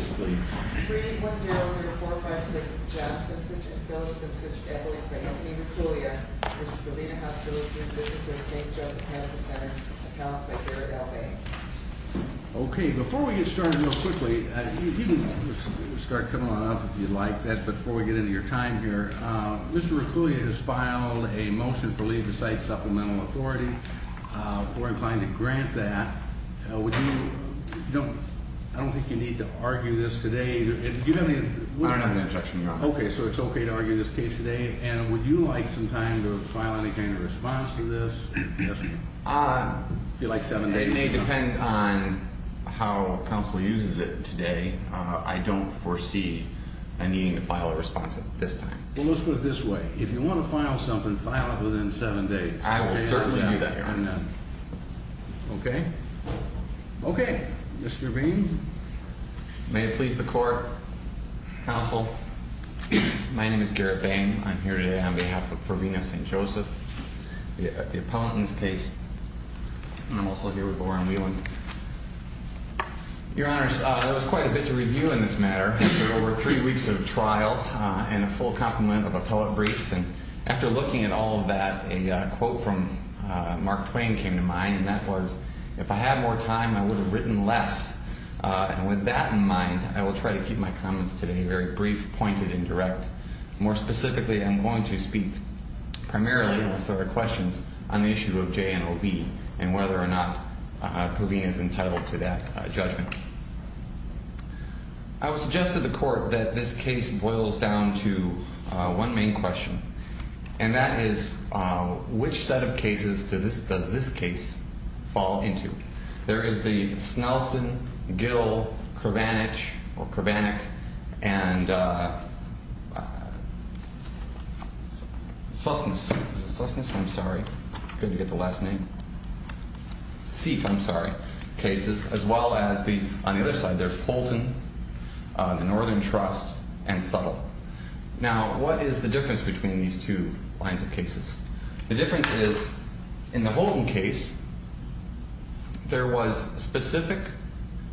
3103456 Jeff Cincich and Phyllis Cincich, equities by Anthony Reculia, Mrs. Provena Hospital is due business at St. Joseph Medical Center, account by Garrett L. Bay. Okay, before we get started real quickly, you can start coming on up if you'd like, but before we get into your time here, Mr. Reculia has filed a motion for leave of site supplemental authority. We're inclined to grant that. Would you, I don't think you need to argue this today. Do you have any? I don't have an objection, Your Honor. Okay, so it's okay to argue this case today, and would you like some time to file any kind of response to this? If you'd like seven days. It may depend on how counsel uses it today. I don't foresee a need to file a response at this time. Well, let's put it this way. I will certainly do that, Your Honor. Okay, okay, Mr. Bain, may it please the court, counsel. My name is Garrett Bain. I'm here today on behalf of Provena St. Joseph, the appellant in this case, and I'm also here with Lauren Whelan. Your Honor, there was quite a bit to review in this matter. After over three weeks of trial and a full complement of appellate briefs, and after looking at all of that, a quote from Mark Twain came to mind, and that was, if I had more time, I would have written less. And with that in mind, I will try to keep my comments today very brief, pointed, and direct. More specifically, I'm going to speak primarily, as there are questions, on the issue of J&OB, and whether or not Provena's entitled to that judgment. I will suggest to the court that this case boils down to one main question, and that is, which set of cases does this case fall into? There is the Snelson, Gill, Kervanich, or Kervanick, and Sosnes, Sosnes, I'm sorry, good to get the last name, Seif, I'm sorry, cases, as well as the, on the other side, there's Holton, the Northern Trust, and Suttle. Now, what is the difference between these two lines of cases? The difference is, in the Holton case, there was specific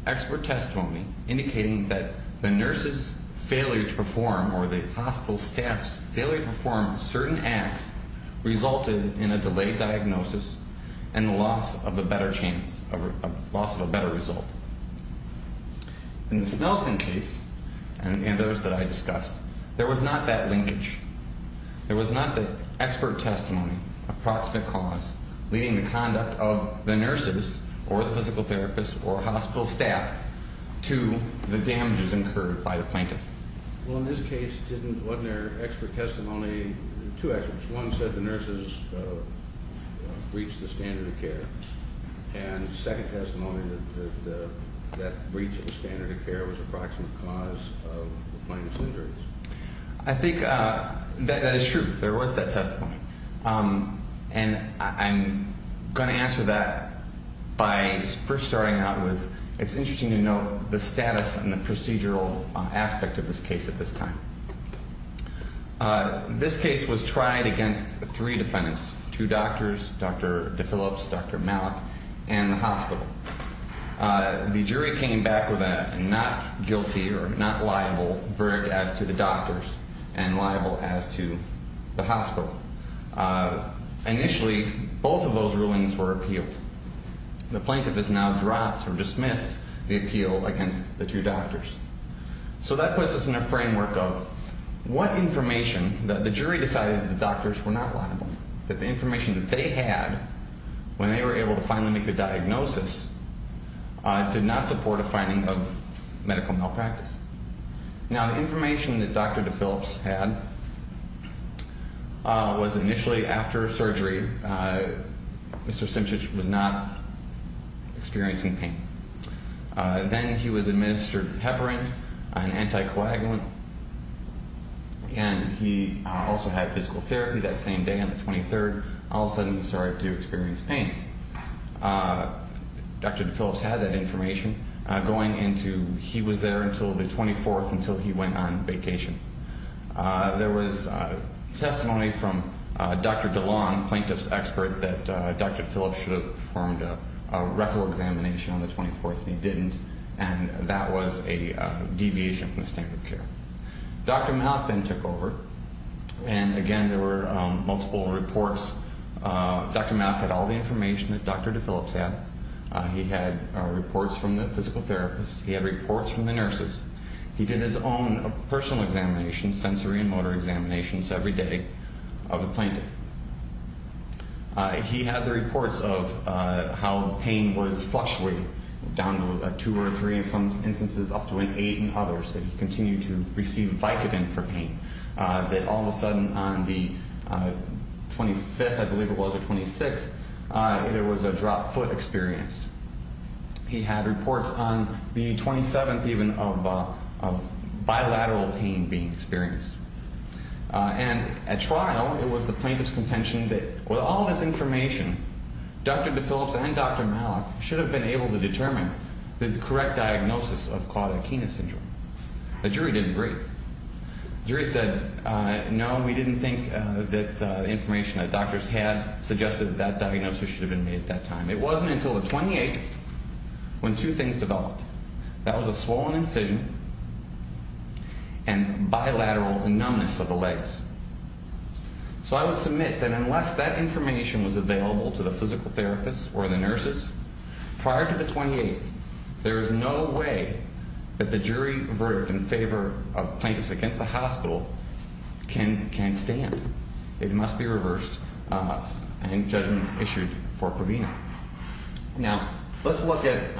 expert testimony indicating that the nurse's failure to perform, or the hospital staff's failure to perform certain acts resulted in a delayed diagnosis, and the loss of a better chance, loss of a better result. In the Snelson case, and those that I discussed, there was not that linkage. There was not the expert testimony, approximate cause, leading the conduct of the nurses, or the physical therapists, or hospital staff, to the damages incurred by the plaintiff. Well, in this case, didn't, wasn't there expert testimony, two experts, one said the nurses reached the standard of care, and second testimony that that reach of the standard of care was approximate cause of the plaintiff's injuries? I think that is true. There was that testimony. And I'm gonna answer that by first starting out with, it's interesting to note the status and the procedural aspect of this case at this time. This case was tried against three defendants, two doctors, Dr. DePhillips, Dr. Malik, and the hospital. The jury came back with a not guilty or not liable verdict as to the doctors, and liable as to the hospital. Initially, both of those rulings were appealed. The plaintiff has now dropped or dismissed the appeal against the two doctors. So that puts us in a framework of what information, that the jury decided the doctors were not liable, that the information that they had when they were able to finally make the diagnosis did not support a finding of medical malpractice. Now the information that Dr. DePhillips had was initially after surgery, Mr. Simchich was not experiencing pain. Then he was administered heparin, an anticoagulant, and he also had physical therapy that same day on the 23rd. All of a sudden, he started to experience pain. Dr. DePhillips had that information going into, he was there until the 24th, until he went on vacation. There was testimony from Dr. DeLong, plaintiff's expert, that Dr. DePhillips should have performed a rectal examination on the 24th, and he didn't, and that was a deviation from the standard of care. Dr. Malik then took over, and again, there were multiple reports. Dr. Malik had all the information that Dr. DePhillips had. He had reports from the physical therapist. He had reports from the nurses. He did his own personal examination, sensory and motor examinations every day of the plaintiff. He had the reports of how pain was flush with, down to two or three in some instances, up to an eight in others, that he continued to receive Vicodin for pain, that all of a sudden, on the 25th, I believe it was, or 26th, there was a dropped foot experienced. He had reports on the 27th, even, of bilateral pain being experienced. And at trial, it was the plaintiff's contention that with all this information, Dr. DePhillips and Dr. Malik should have been able to determine the correct diagnosis of caudaekina syndrome. The jury didn't agree. The jury said, no, we didn't think that the information that doctors had suggested that that diagnosis should have been made at that time. It wasn't until the 28th when two things developed. That was a swollen incision and bilateral numbness of the legs. was available to the physical therapist or the nurses, Prior to the 28th, there was no way that the jury verdict in favor of plaintiffs against the hospital can stand. It must be reversed in judgment issued for Provena. Now, let's look at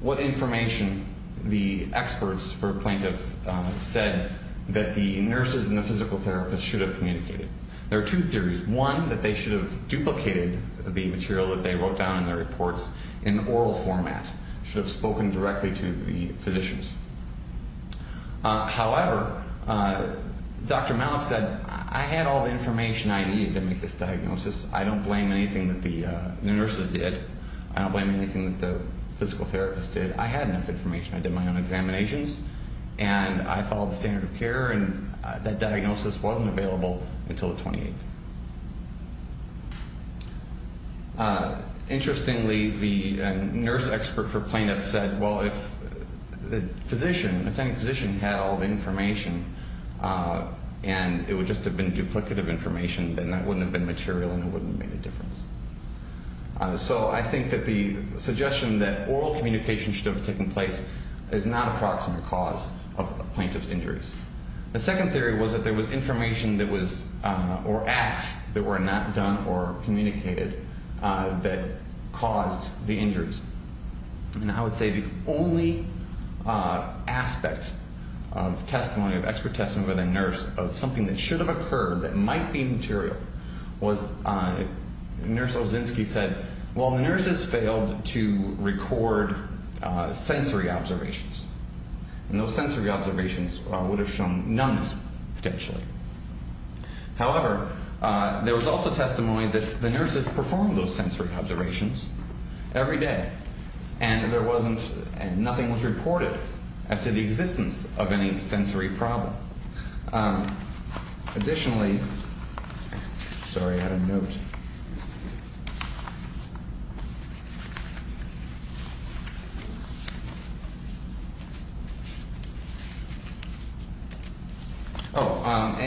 what information the experts for plaintiff said that the nurses and the physical therapist should have communicated. There are two theories. One, that they should have duplicated the material that they wrote down in their reports in oral format, should have spoken directly to the physicians. However, Dr. Malik said, I had all the information I needed to make this diagnosis. I don't blame anything that the nurses did. I don't blame anything that the physical therapist did. I had enough information. I did my own examinations and I followed the standard of care and that diagnosis wasn't available until the 28th. Interestingly, the nurse expert for plaintiff said, well, if the physician, the attending physician had all the information and it would just have been duplicative information, then that wouldn't have been material and it wouldn't have made a difference. So I think that the suggestion that oral communication should have taken place is not a proximate cause of plaintiff's injuries. The second theory was that there was information that was or acts that were not done or communicated that caused the injuries. And I would say the only aspect of testimony, of expert testimony by the nurse of something that should have occurred that might be material was nurse Olzinski said, well, the nurses failed to record sensory observations. And those sensory observations would have shown numbness potentially. However, there was also testimony that the nurses performed those sensory observations every day and there wasn't, and nothing was reported as to the existence of any sensory problem. Additionally, sorry, I had a note. Oh,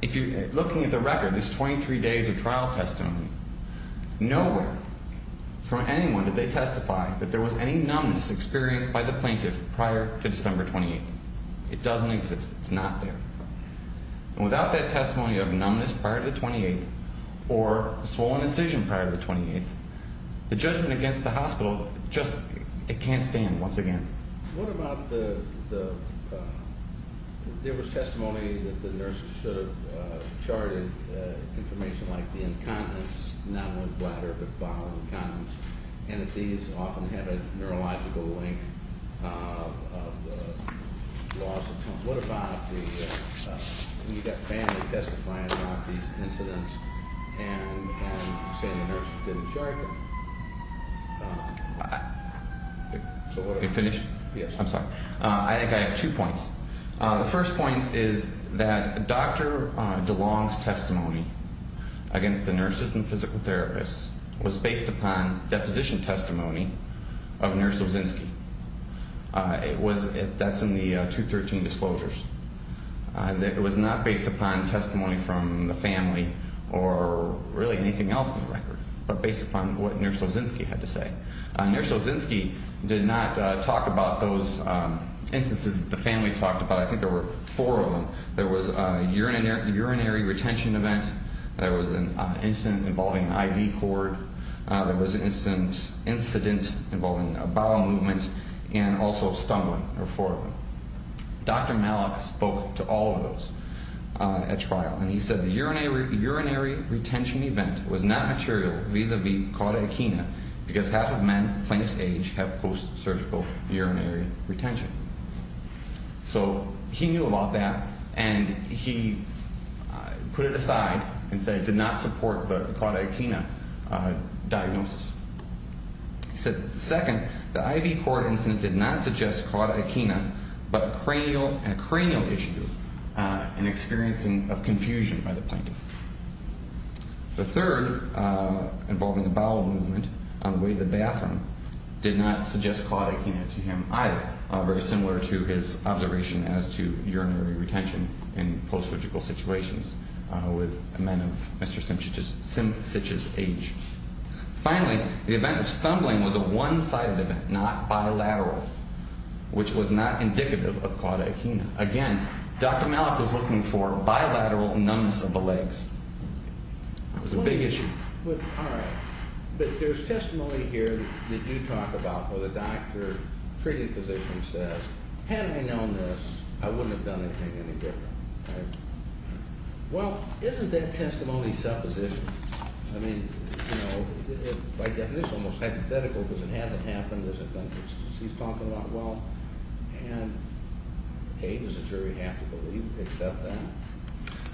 if you're looking at the record, there's 23 days of trial testimony. Nowhere from anyone did they testify that there was any numbness experienced by the plaintiff prior to December 28th. It doesn't exist. It's not there. So I would say that there was no evidence of numbness prior to December 28th. Or a swollen incision prior to the 28th. The judgment against the hospital, just, it can't stand once again. What about the, there was testimony that the nurses should have charted information like the incontinence, not only bladder, but bowel incontinence, and that these often have a neurological link of the loss of tone. What about the, you've got family testifying about these incidents and saying the nurses didn't chart them. You finished? Yes. I'm sorry. I think I have two points. The first point is that Dr. DeLong's testimony against the nurses and physical therapists was based upon deposition testimony of Nurse Ozynski. That's in the 213 disclosures. That it was not based upon testimony from the family or really anything else in the record, but based upon what Nurse Ozynski had to say. Nurse Ozynski did not talk about those instances that the family talked about. I think there were four of them. There was a urinary retention event. There was an incident involving an IV cord. There was an incident involving a bowel movement. And also stumbling, there were four of them. Dr. Malek spoke to all of those at trial. And he said the urinary retention event was not material vis-a-vis cauda echina because half of men Plaintiff's age have post-surgical urinary retention. So he knew about that and he put it aside and said it did not support the cauda echina diagnosis. He said second, the IV cord incident did not suggest cauda echina, but a cranial issue and experiencing of confusion by the Plaintiff. The third, involving the bowel movement on the way to the bathroom, did not suggest cauda echina to him either. Very similar to his observation as to urinary retention in post-surgical situations with men of Mr. Simch's age. Finally, the event of stumbling was a one-sided event, not bilateral, which was not indicative of cauda echina. Again, Dr. Malek was looking for bilateral numbness of the legs. That was a big issue. All right, but there's testimony here that you talk about where the doctor, treating physician says, had I known this, I wouldn't have done anything any different, right? Well, isn't that testimony supposition? I mean, by definition, it's almost hypothetical because it hasn't happened, there's a dentist, he's talking about well, and hey, does a jury have to believe except that?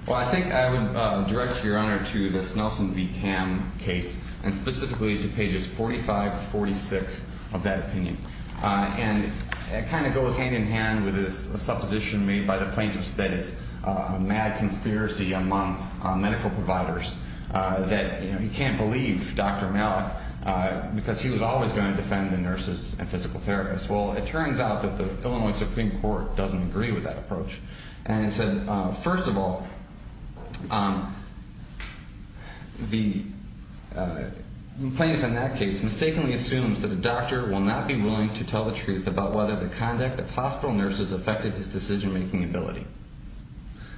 Well, I think I would direct your honor to this Nelson v. Cam case, and specifically to pages 45 to 46 of that opinion. And it kind of goes hand in hand with this supposition made by the Plaintiff's that it's a mad conspiracy among medical providers that you can't believe Dr. Malek because he was always going to defend the nurses and physical therapists. Well, it turns out that the Illinois Supreme Court doesn't agree with that approach. And it said, first of all, the plaintiff in that case mistakenly assumes that the doctor will not be willing to tell the truth about whether the conduct of hospital nurses affected his decision-making ability.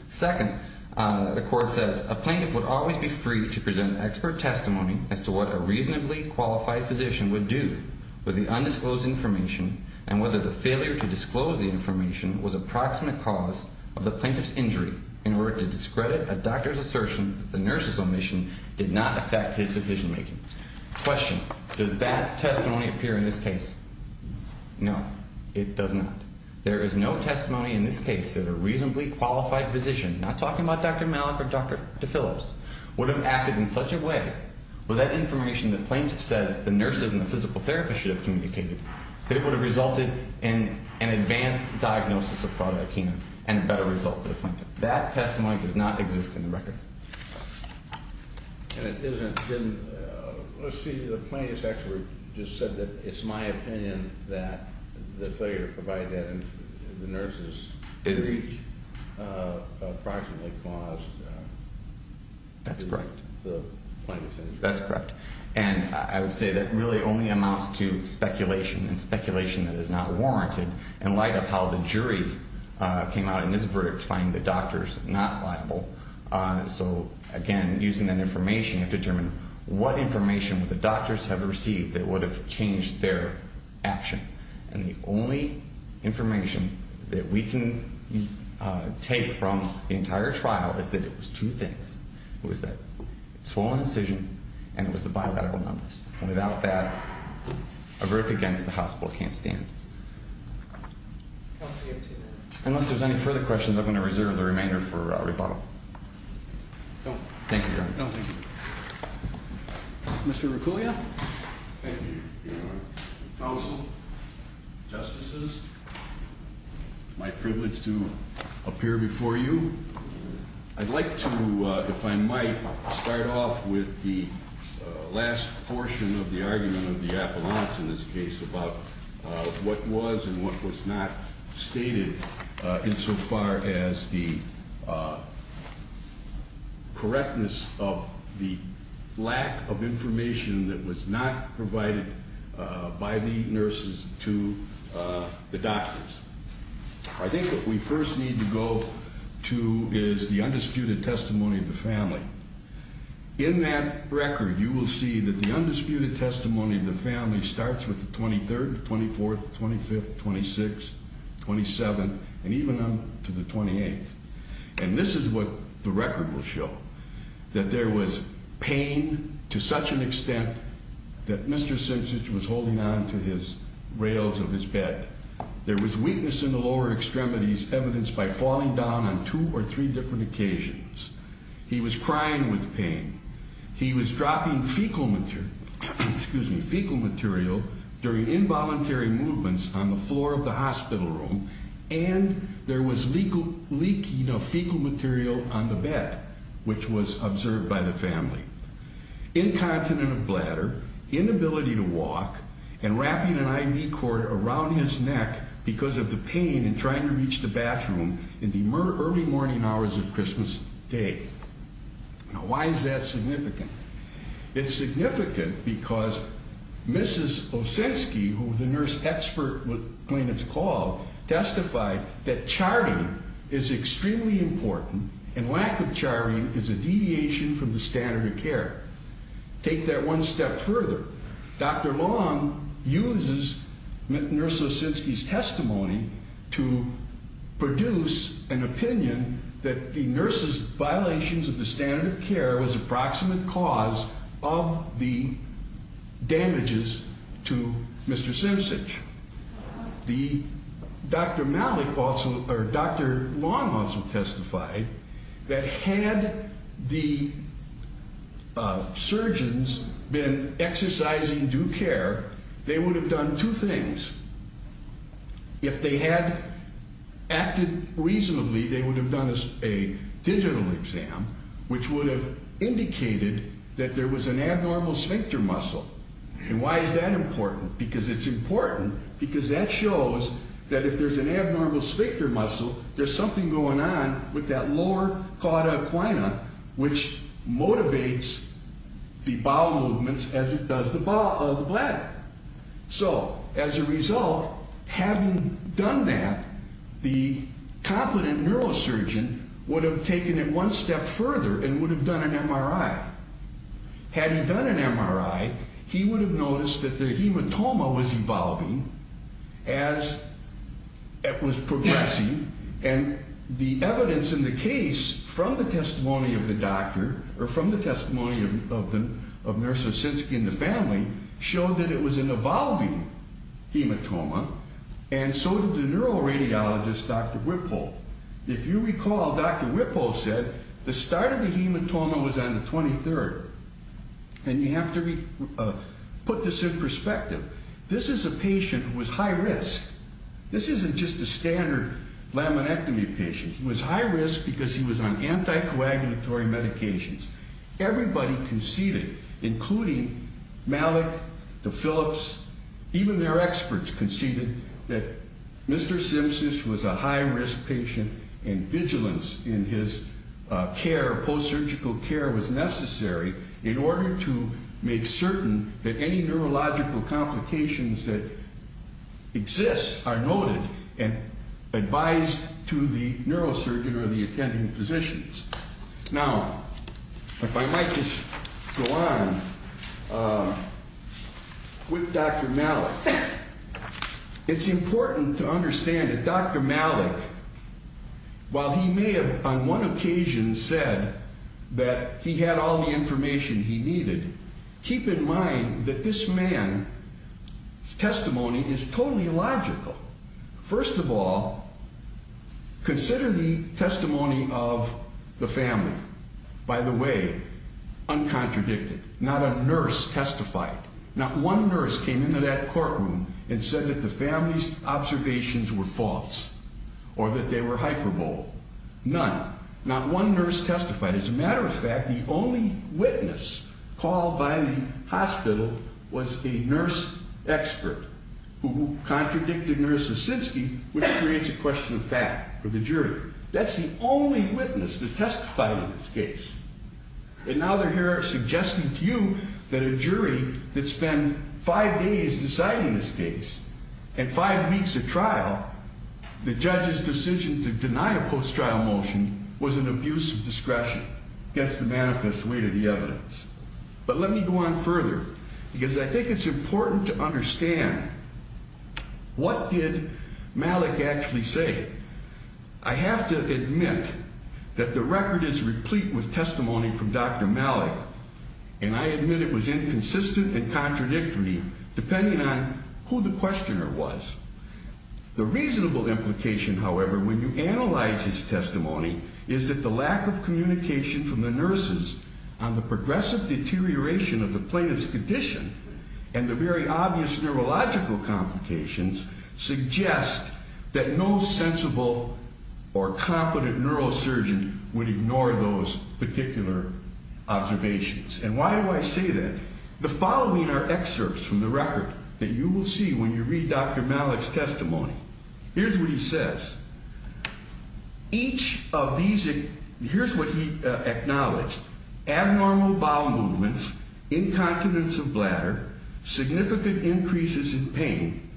Second, the court says, a plaintiff would always be free to present an expert testimony as to what a reasonably qualified physician would do with the undisclosed information and whether the failure to disclose the information was a proximate cause of the plaintiff's injury in order to discredit a doctor's assertion that the nurse's omission did not affect his decision-making. Question, does that testimony appear in this case? No, it does not. There is no testimony in this case that a reasonably qualified physician, not talking about Dr. Malek or Dr. DeFillips, would have acted in such a way with that information the plaintiff says the nurses and the physical therapist should have communicated, that it would have resulted in an advanced diagnosis of cardiac cancer and a better result for the plaintiff. That testimony does not exist in the record. And it isn't in, let's see, the plaintiff's expert just said that it's my opinion that the failure to provide that information to the nurses is approximately caused by the plaintiff's injury. That's correct. And I would say that really only amounts to speculation and speculation that is not warranted in light of how the jury came out in this verdict finding the doctors not liable. So again, using that information to determine what information would the doctors have received that would have changed their action. And the only information that we can take from the entire trial is that it was two things. It was that swollen incision and it was the bilateral numbers. Without that, a verdict against the hospital can't stand. Unless there's any further questions, I'm going to reserve the remainder for rebuttal. Thank you, Your Honor. No, thank you. Mr. Recuglia. Thank you. Counsel, justices, my privilege to appear before you. I'd like to, if I might, start off with the last portion of the argument of the affluence in this case about what was and what was not stated insofar as the correctness of the lack of information that was not provided by the nurses to the doctors. I think what we first need to go to is the undisputed testimony of the family. In that record, you will see that the undisputed testimony of the family starts with the 23rd, 24th, 25th, 26th, 27th, and even on to the 28th. And this is what the record will show, that there was pain to such an extent that Mr. Simpson was holding on to his rails of his bed. There was weakness in the lower extremities evidenced by falling down on two or three different occasions. He was crying with pain. He was dropping fecal material during involuntary movements on the floor of the hospital room, and there was leaking of fecal material on the bed, Incontinent bladder, inability to walk, and wrapping an IV cord around his neck because of the pain and trying to reach the bathroom in the early morning hours of Christmas Day. Now, why is that significant? It's significant because Mrs. Osinski, who the nurse expert would claim it's called, testified that charting is extremely important, and lack of charting is a deviation from the standard of care. Take that one step further. Dr. Long uses Nurse Osinski's testimony to produce an opinion that the nurse's violations of the standard of care was approximate cause of the damages to Mr. Simpson. The Dr. Malik also, or Dr. Long also testified that had the surgeons been exercising their discretion and exercising due care, they would have done two things. If they had acted reasonably, they would have done a digital exam, which would have indicated that there was an abnormal sphincter muscle. And why is that important? Because it's important because that shows that if there's an abnormal sphincter muscle, there's something going on with that lower cauda equina, which motivates the bowel movements as it does the bladder. So as a result, having done that, the competent neurosurgeon would have taken it one step further and would have done an MRI. Had he done an MRI, he would have noticed that the hematoma was evolving as it was progressing, and the evidence in the case from the testimony of the doctor, or from the testimony of Nurse Osinski and the family, showed that it was an evolving hematoma, and so did the neuroradiologist, Dr. Whipple. If you recall, Dr. Whipple said the start of the hematoma was on the 23rd, and you have to put this in perspective. This is a patient who was high risk. This isn't just a standard laminectomy patient. He was high risk because he was on anti-coagulatory medications. Everybody conceded, including Malik, the Phillips, even their experts conceded that Mr. Simsish was a high risk patient, and vigilance in his care, post-surgical care, was necessary in order to make certain that any neurological complications that exist are noted and advised to the neurosurgeon or the attending physicians. Now, if I might just go on with Dr. Malik. It's important to understand that Dr. Malik, while he may have on one occasion said that he had all the information he needed, keep in mind that this man's testimony is totally illogical. First of all, consider the testimony of the family. By the way, uncontradicted, not a nurse testified. Not one nurse came into that courtroom and said that the family's observations were false or that they were hyperbole, none. Not one nurse testified. As a matter of fact, the only witness called by the hospital was a nurse expert who contradicted Nurse Osinski, which creates a question of fact for the jury. That's the only witness that testified in this case. And now they're here suggesting to you that a jury that spent five days deciding this case and five weeks of trial, the judge's decision to deny a post-trial motion was an abuse of discretion. Gets the manifest way to the evidence. But let me go on further because I think it's important to understand what did Malik actually say? I have to admit that the record is replete with testimony from Dr. Malik, and I admit it was inconsistent and contradictory depending on who the questioner was. The reasonable implication, however, when you analyze his testimony is that the lack of communication from the nurses on the progressive deterioration of the plaintiff's condition and the very obvious neurological complications suggest that no sensible or competent neurosurgeon would ignore those particular observations. And why do I say that? The following are excerpts from the record that you will see when you read Dr. Malik's testimony. Here's what he says. Each of these, here's what he acknowledged. Abnormal bowel movements, incontinence of bladder, significant increases in pain,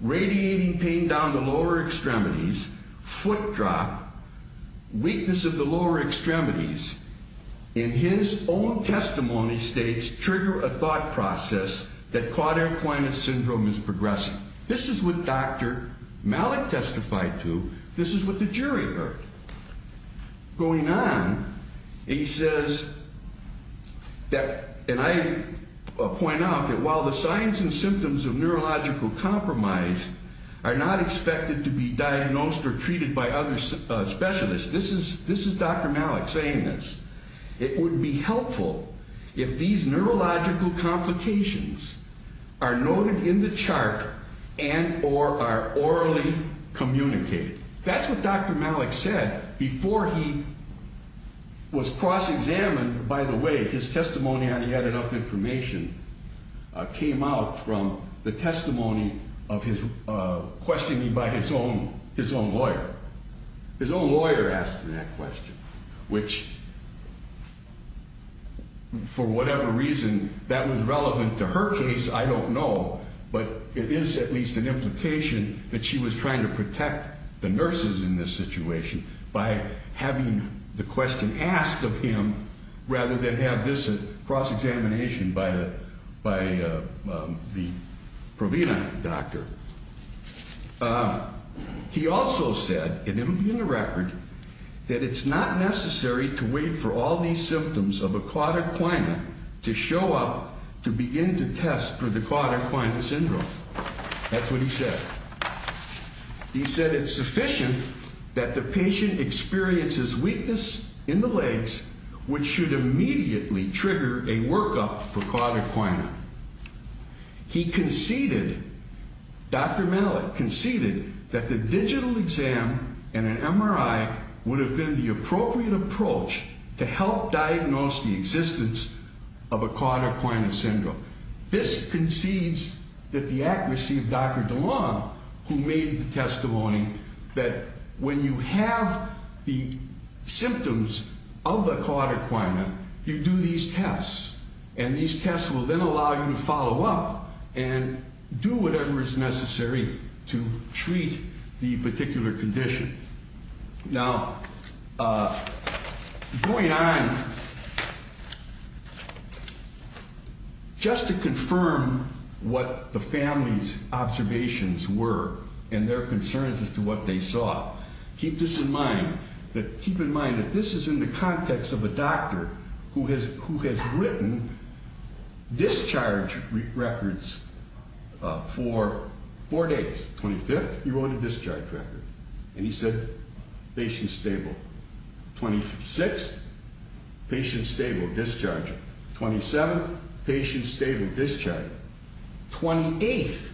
radiating pain down the lower extremities, foot drop, weakness of the lower extremities. In his own testimony states, trigger a thought process that quadriaclinic syndrome is progressing. This is what Dr. Malik testified to. This is what the jury heard. Going on, he says that, and I point out that while the signs and symptoms of neurological compromise are not expected to be diagnosed or treated by other specialists, this is Dr. Malik saying this. It would be helpful if these neurological complications are noted in the chart and or are orally communicated. That's what Dr. Malik said before he was cross-examined. By the way, his testimony on he had enough information came out from the testimony of his questioning by his own lawyer. His own lawyer asked him that question, which for whatever reason, that was relevant to her case, I don't know, but it is at least an implication that she was trying to protect the nurses in this situation by having the question asked of him rather than have this cross-examination by the provenient doctor. He also said, and it'll be in the record, that it's not necessary to wait for all these symptoms of a quadriquina to show up to begin to test for the quadriquina syndrome. That's what he said. He said it's sufficient that the patient experiences weakness in the legs, which should immediately trigger a workup for quadriquina. He conceded, Dr. Malik conceded, that the digital exam and an MRI would have been the appropriate approach to help diagnose the existence of a quadriquina syndrome. This concedes that the accuracy of Dr. DeLong, who made the testimony, that when you have the symptoms of the quadriquina, you do these tests, and these tests will then allow you to follow up and do whatever is necessary to treat the particular condition. Now, going on, just to confirm what the family's observations were and their concerns as to what they saw, keep this in mind, that keep in mind that this is in the context of a doctor who has written discharge records for four days. 25th, he wrote a discharge record. And he said, patient stable. 26th, patient stable, discharge. 27th, patient stable, discharge. 28th,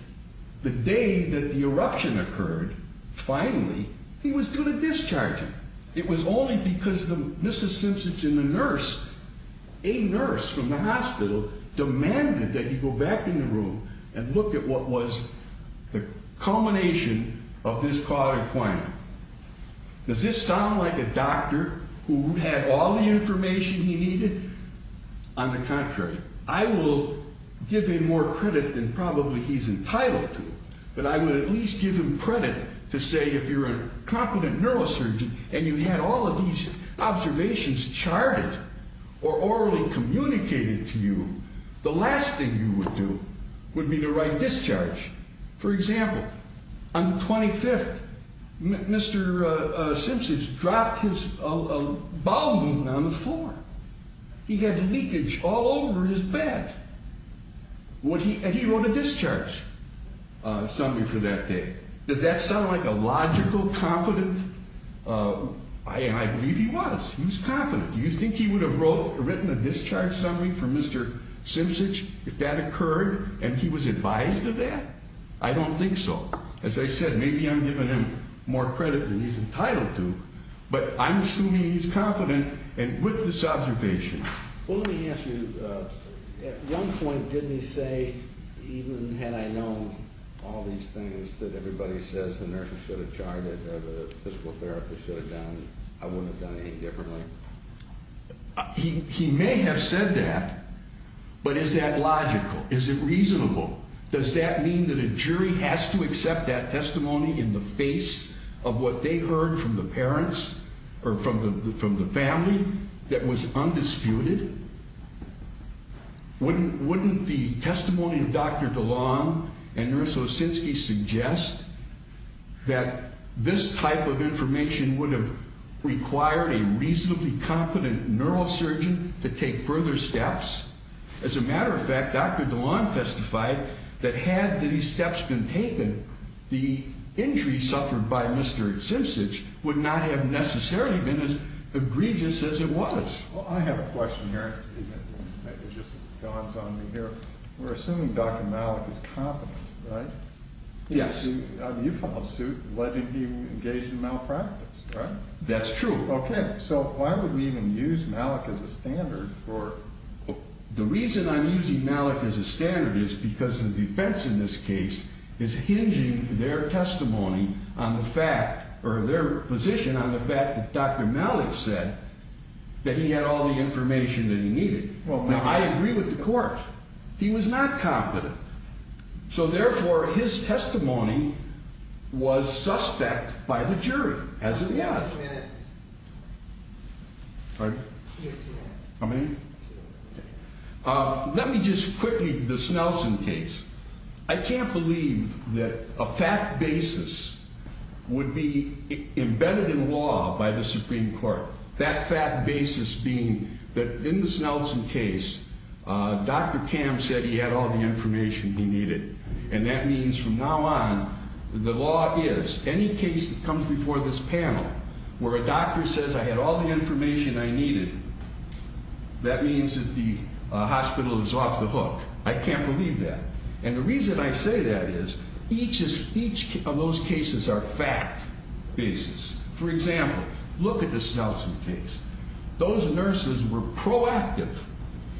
the day that the eruption occurred, finally, he was due to discharge. It was only because the Mrs. Simpsons and the nurse, a nurse from the hospital, demanded that he go back in the room and look at what was the culmination of this quadriquina. Does this sound like a doctor who had all the information he needed? On the contrary. I will give him more credit than probably he's entitled to, but I would at least give him credit to say if you're a competent neurosurgeon and you had all of these observations charted or orally communicated to you, the last thing you would do would be to write discharge. For example, on the 25th, Mr. Simpsons dropped his bowel movement on the floor. He had leakage all over his back. And he wrote a discharge summary for that day. Does that sound like a logical, competent, and I believe he was, he was competent. Do you think he would have written a discharge summary for Mr. Simpsons? If that occurred and he was advised of that? I don't think so. As I said, maybe I'm giving him more credit than he's entitled to, but I'm assuming he's confident and with this observation. Well, let me ask you, at one point, didn't he say, even had I known all these things that everybody says the nurses should have charted or the physical therapist should have done, I wouldn't have done it any differently? He may have said that, but is that logical? Is it reasonable? Does that mean that a jury has to accept that testimony in the face of what they heard from the parents or from the family that was undisputed? Wouldn't the testimony of Dr. DeLong and Nurse Osinski suggest that this type of information would have required a reasonably competent neurosurgeon to take further steps? As a matter of fact, Dr. DeLong testified that had these steps been taken, the injury suffered by Mr. Simpsons would not have necessarily been as egregious as it was. Well, I have a question here, Stephen. It just dawns on me here. We're assuming Dr. Malik is competent, right? Yes. You follow suit, letting him engage in malpractice, right? That's true. Okay, so why would we even use Malik as a standard for... The reason I'm using Malik as a standard is because the defense in this case is hinging their testimony on the fact, or their position on the fact that Dr. Malik said that he had all the information that he needed. Now, I agree with the court. He was not competent. So therefore, his testimony was suspect by the jury, as it was. Two minutes. Pardon? You have two minutes. How many? Two. Let me just quickly, the Snelson case. I can't believe that a fact basis would be embedded in law by the Supreme Court. That fact basis being that in the Snelson case, Dr. Cam said he had all the information he needed. And that means from now on, the law is, any case that comes before this panel where a doctor says I had all the information I needed, that means that the hospital is off the hook. I can't believe that. And the reason I say that is each of those cases are fact basis. For example, look at the Snelson case. Those nurses were proactive.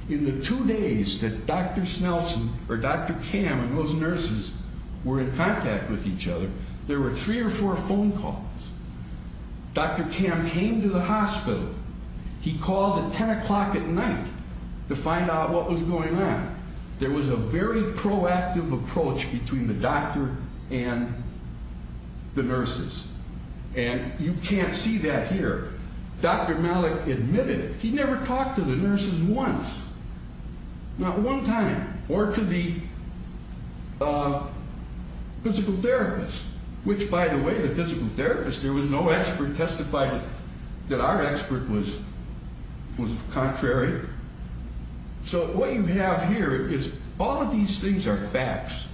In the two days that Dr. Cam and those nurses were in contact with each other, there were three or four phone calls. Dr. Cam came to the hospital. He called at 10 o'clock at night to find out what was going on. There was a very proactive approach between the doctor and the nurses. And you can't see that here. Dr. Malik admitted it. He never talked to the nurses once. Not one time. Or to the physical therapist. Which, by the way, the physical therapist, there was no expert, testified that our expert was contrary. So what you have here is all of these things are facts,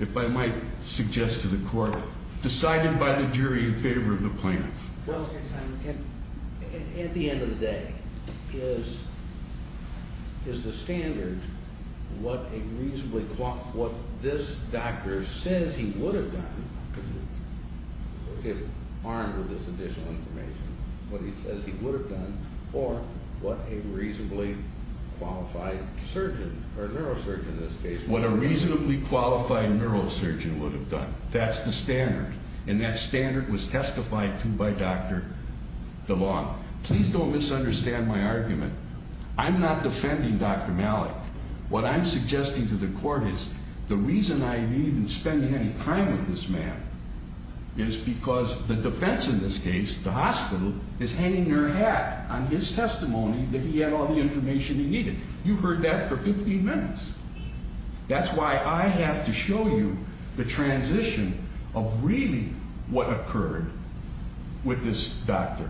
if I might suggest to the court, decided by the jury in favor of the plaintiff. Well, at the end of the day, is the standard what a reasonably, what this doctor says he would have done, if armed with this additional information, what he says he would have done, or what a reasonably qualified surgeon, or neurosurgeon in this case, what a reasonably qualified neurosurgeon would have done. That's the standard. And that standard was testified to by Dr. DeLong. Please don't misunderstand my argument. I'm not defending Dr. Malik. What I'm suggesting to the court is, the reason I needn't spend any time with this man is because the defense in this case, the hospital, is hanging their hat on his testimony that he had all the information he needed. You've heard that for 15 minutes. That's why I have to show you the transition of really what occurred with this doctor.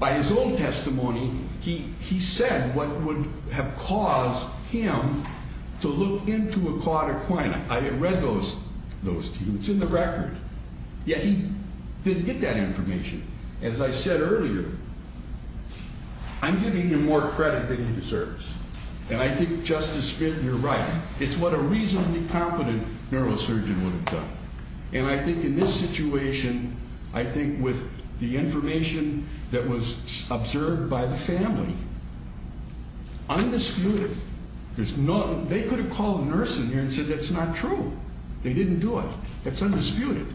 By his own testimony, he said what would have caused him to look into a quadriquinib. I had read those to you. It's in the record. Yet he didn't get that information. As I said earlier, I'm giving him more credit than he deserves. And I think Justice Fitton, you're right. It's what a reasonably competent neurosurgeon would have done. And I think in this situation, I think with the information that was observed by the family, undisputed, there's no, they could have called a nurse in here and said that's not true. They didn't do it. That's undisputed.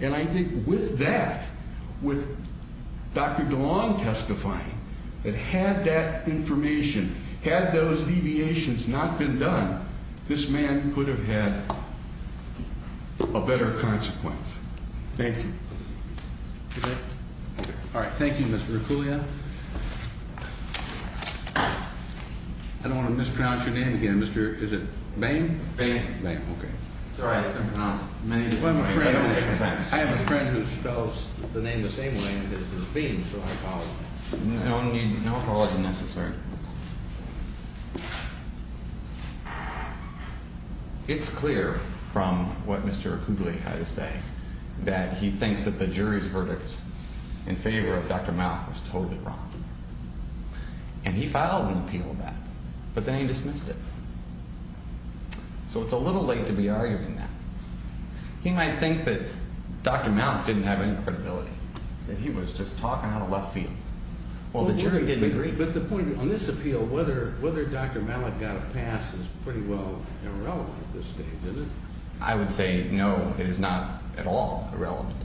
And I think with that, with Dr. DeLong testifying, that had that information, had those deviations not been done, this man could have had a better consequence. Thank you. All right, thank you, Mr. Acuglia. I don't want to mispronounce your name again, Mr., is it Bain? Bain. Bain, okay. It's all right, it's been pronounced many different ways. I have a friend who spells the name the same way because his name is Bain, so I apologize. No apology necessary. All right. It's clear from what Mr. Acuglia had to say that he thinks that the jury's verdict in favor of Dr. Mount was totally wrong. And he filed an appeal of that, but then he dismissed it. So it's a little late to be arguing that. He might think that Dr. Mount didn't have any credibility, that he was just talking out of left field. Well, the jury didn't agree. But the point on this appeal, whether Dr. Mallick got a pass is pretty well irrelevant at this stage, isn't it? I would say, no, it is not at all irrelevant.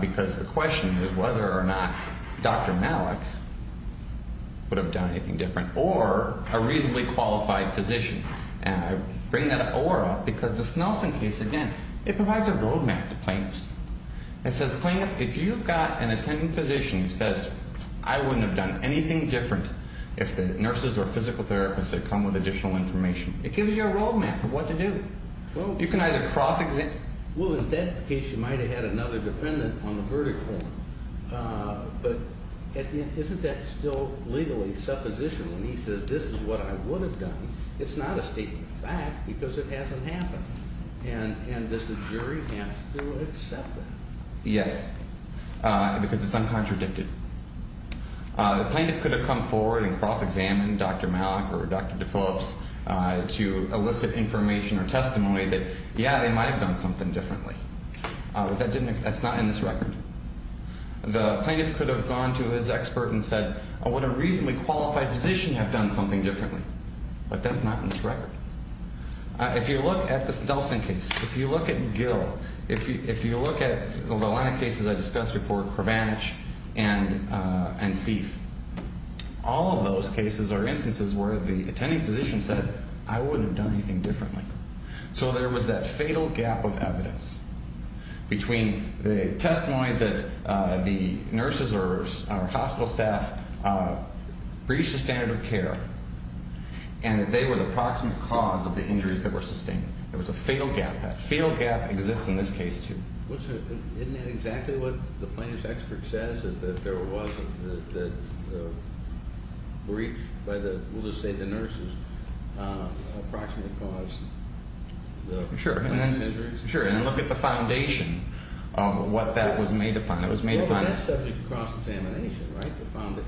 Because the question was whether or not Dr. Mallick would have done anything different, or a reasonably qualified physician. And I bring that up, or up, because this Nelson case, again, it provides a roadmap to plaintiffs. It says, plaintiff, if you've got an attending physician who says, I wouldn't have done anything different if the nurses or physical therapists had come with additional information. It gives you a roadmap of what to do. You can either cross-examine. Well, in that case, you might have had another defendant on the verdict form. But isn't that still legally supposition when he says, this is what I would have done? It's not a statement of fact, because it hasn't happened. And does the jury have to accept it? Yes, because it's uncontradicted. The plaintiff could have come forward and cross-examined Dr. Mallick or Dr. DePhillips to elicit information or testimony that, yeah, they might have done something differently. But that's not in this record. The plaintiff could have gone to his expert and said, would a reasonably qualified physician have done something differently? But that's not in this record. If you look at this Nelson case, if you look at Gill, if you look at the line of cases I discussed before, Kravanich and Sieff, all of those cases are instances where the attending physician said, I wouldn't have done anything differently. So there was that fatal gap of evidence between the testimony that the nurses or hospital staff breached the standard of care and that they were the proximate cause of the injuries that were sustained. There was a fatal gap. Field gap exists in this case, too. Wasn't it exactly what the plaintiff's expert says, that there was a breach by the, we'll just say the nurses, approximately caused the injuries? Sure, and then look at the foundation of what that was made upon. It was made upon- Well, but that's subject to cross-examination, right? To found that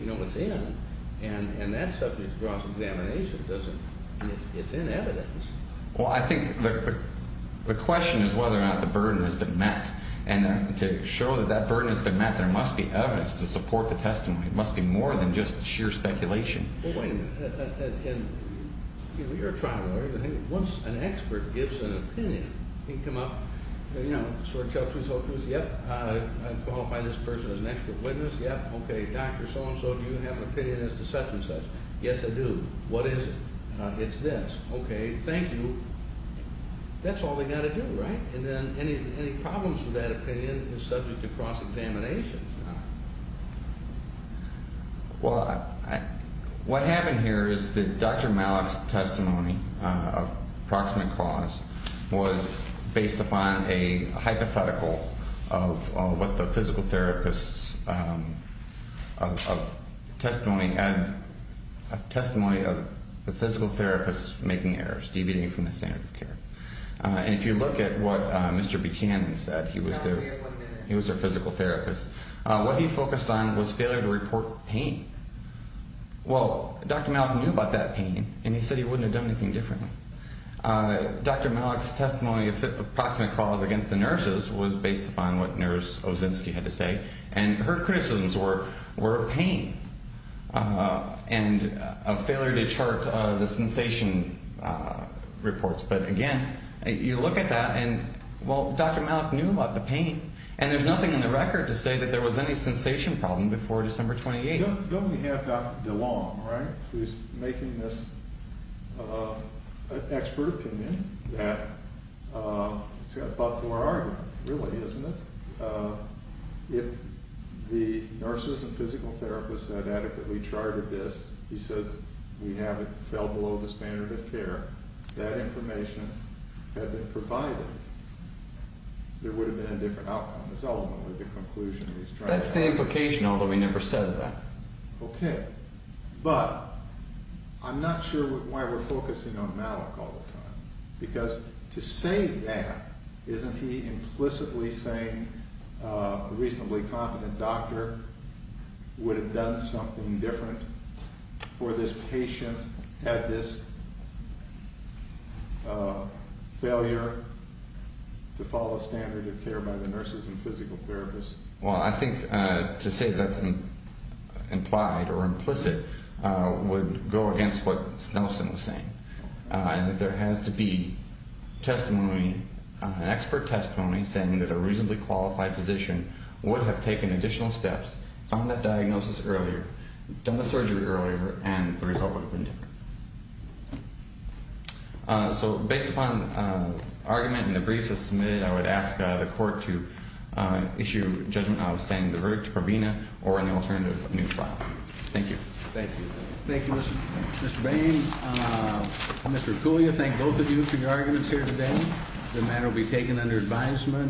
you know what's in. And that subject to cross-examination doesn't, it's in evidence. Well, I think the question is whether or not the burden has been met. And to show that that burden has been met, there must be evidence to support the testimony. It must be more than just sheer speculation. Well, wait a minute. And you're trying to learn, once an expert gives an opinion, he can come up, you know, sort of tell us who's hopeless, yep, I'd qualify this person as an expert witness, yep, okay, doctor, so-and-so, do you have an opinion as to such-and-such? Yes, I do. What is it? It's this. Okay, thank you. That's all they gotta do, right? And then any problems with that opinion is subject to cross-examination. Well, what happened here is that Dr. Malek's testimony of proximate cause was based upon a hypothetical of what the physical therapist's testimony, a testimony of the physical therapist making errors, deviating from the standard of care. And if you look at what Mr. Buchanan said, he was their physical therapist, what he focused on was failure to report pain. Well, Dr. Malek knew about that pain, and he said he wouldn't have done anything differently. Dr. Malek's testimony of proximate cause against the nurses was based upon what Nurse Ozinski had to say, and her criticisms were of pain and a failure to chart the sensation reports. But again, you look at that, and well, Dr. Malek knew about the pain, and there's nothing in the record to say that there was any sensation problem before December 28th. Don't we have Dr. DeLong, right, who's making this expert opinion that it's got Butler argument, really, isn't it? If the nurses and physical therapists had adequately charted this, he said we have it fell below the standard of care, that information had been provided, there would have been a different outcome. That's ultimately the conclusion he's trying to make. That's the implication, although he never says that. Okay, but I'm not sure why we're focusing on Malek all the time, because to say that, isn't he implicitly saying a reasonably competent doctor would have done something different, or this patient had this failure to follow standard of care by the nurses and physical therapists? Well, I think to say that's implied or implicit would go against what Snelson was saying, and that there has to be testimony, an expert testimony, saying that a reasonably qualified physician would have taken additional steps, found that diagnosis earlier, done the surgery earlier, and the result would have been different. So based upon argument in the briefs that's submitted, I would ask the court to issue judgment outstanding the verdict to Provena or an alternative new file. Thank you. Thank you. Thank you, Mr. Bain. Mr. Cooley, I thank both of you for your arguments here today. The matter will be taken under advisement.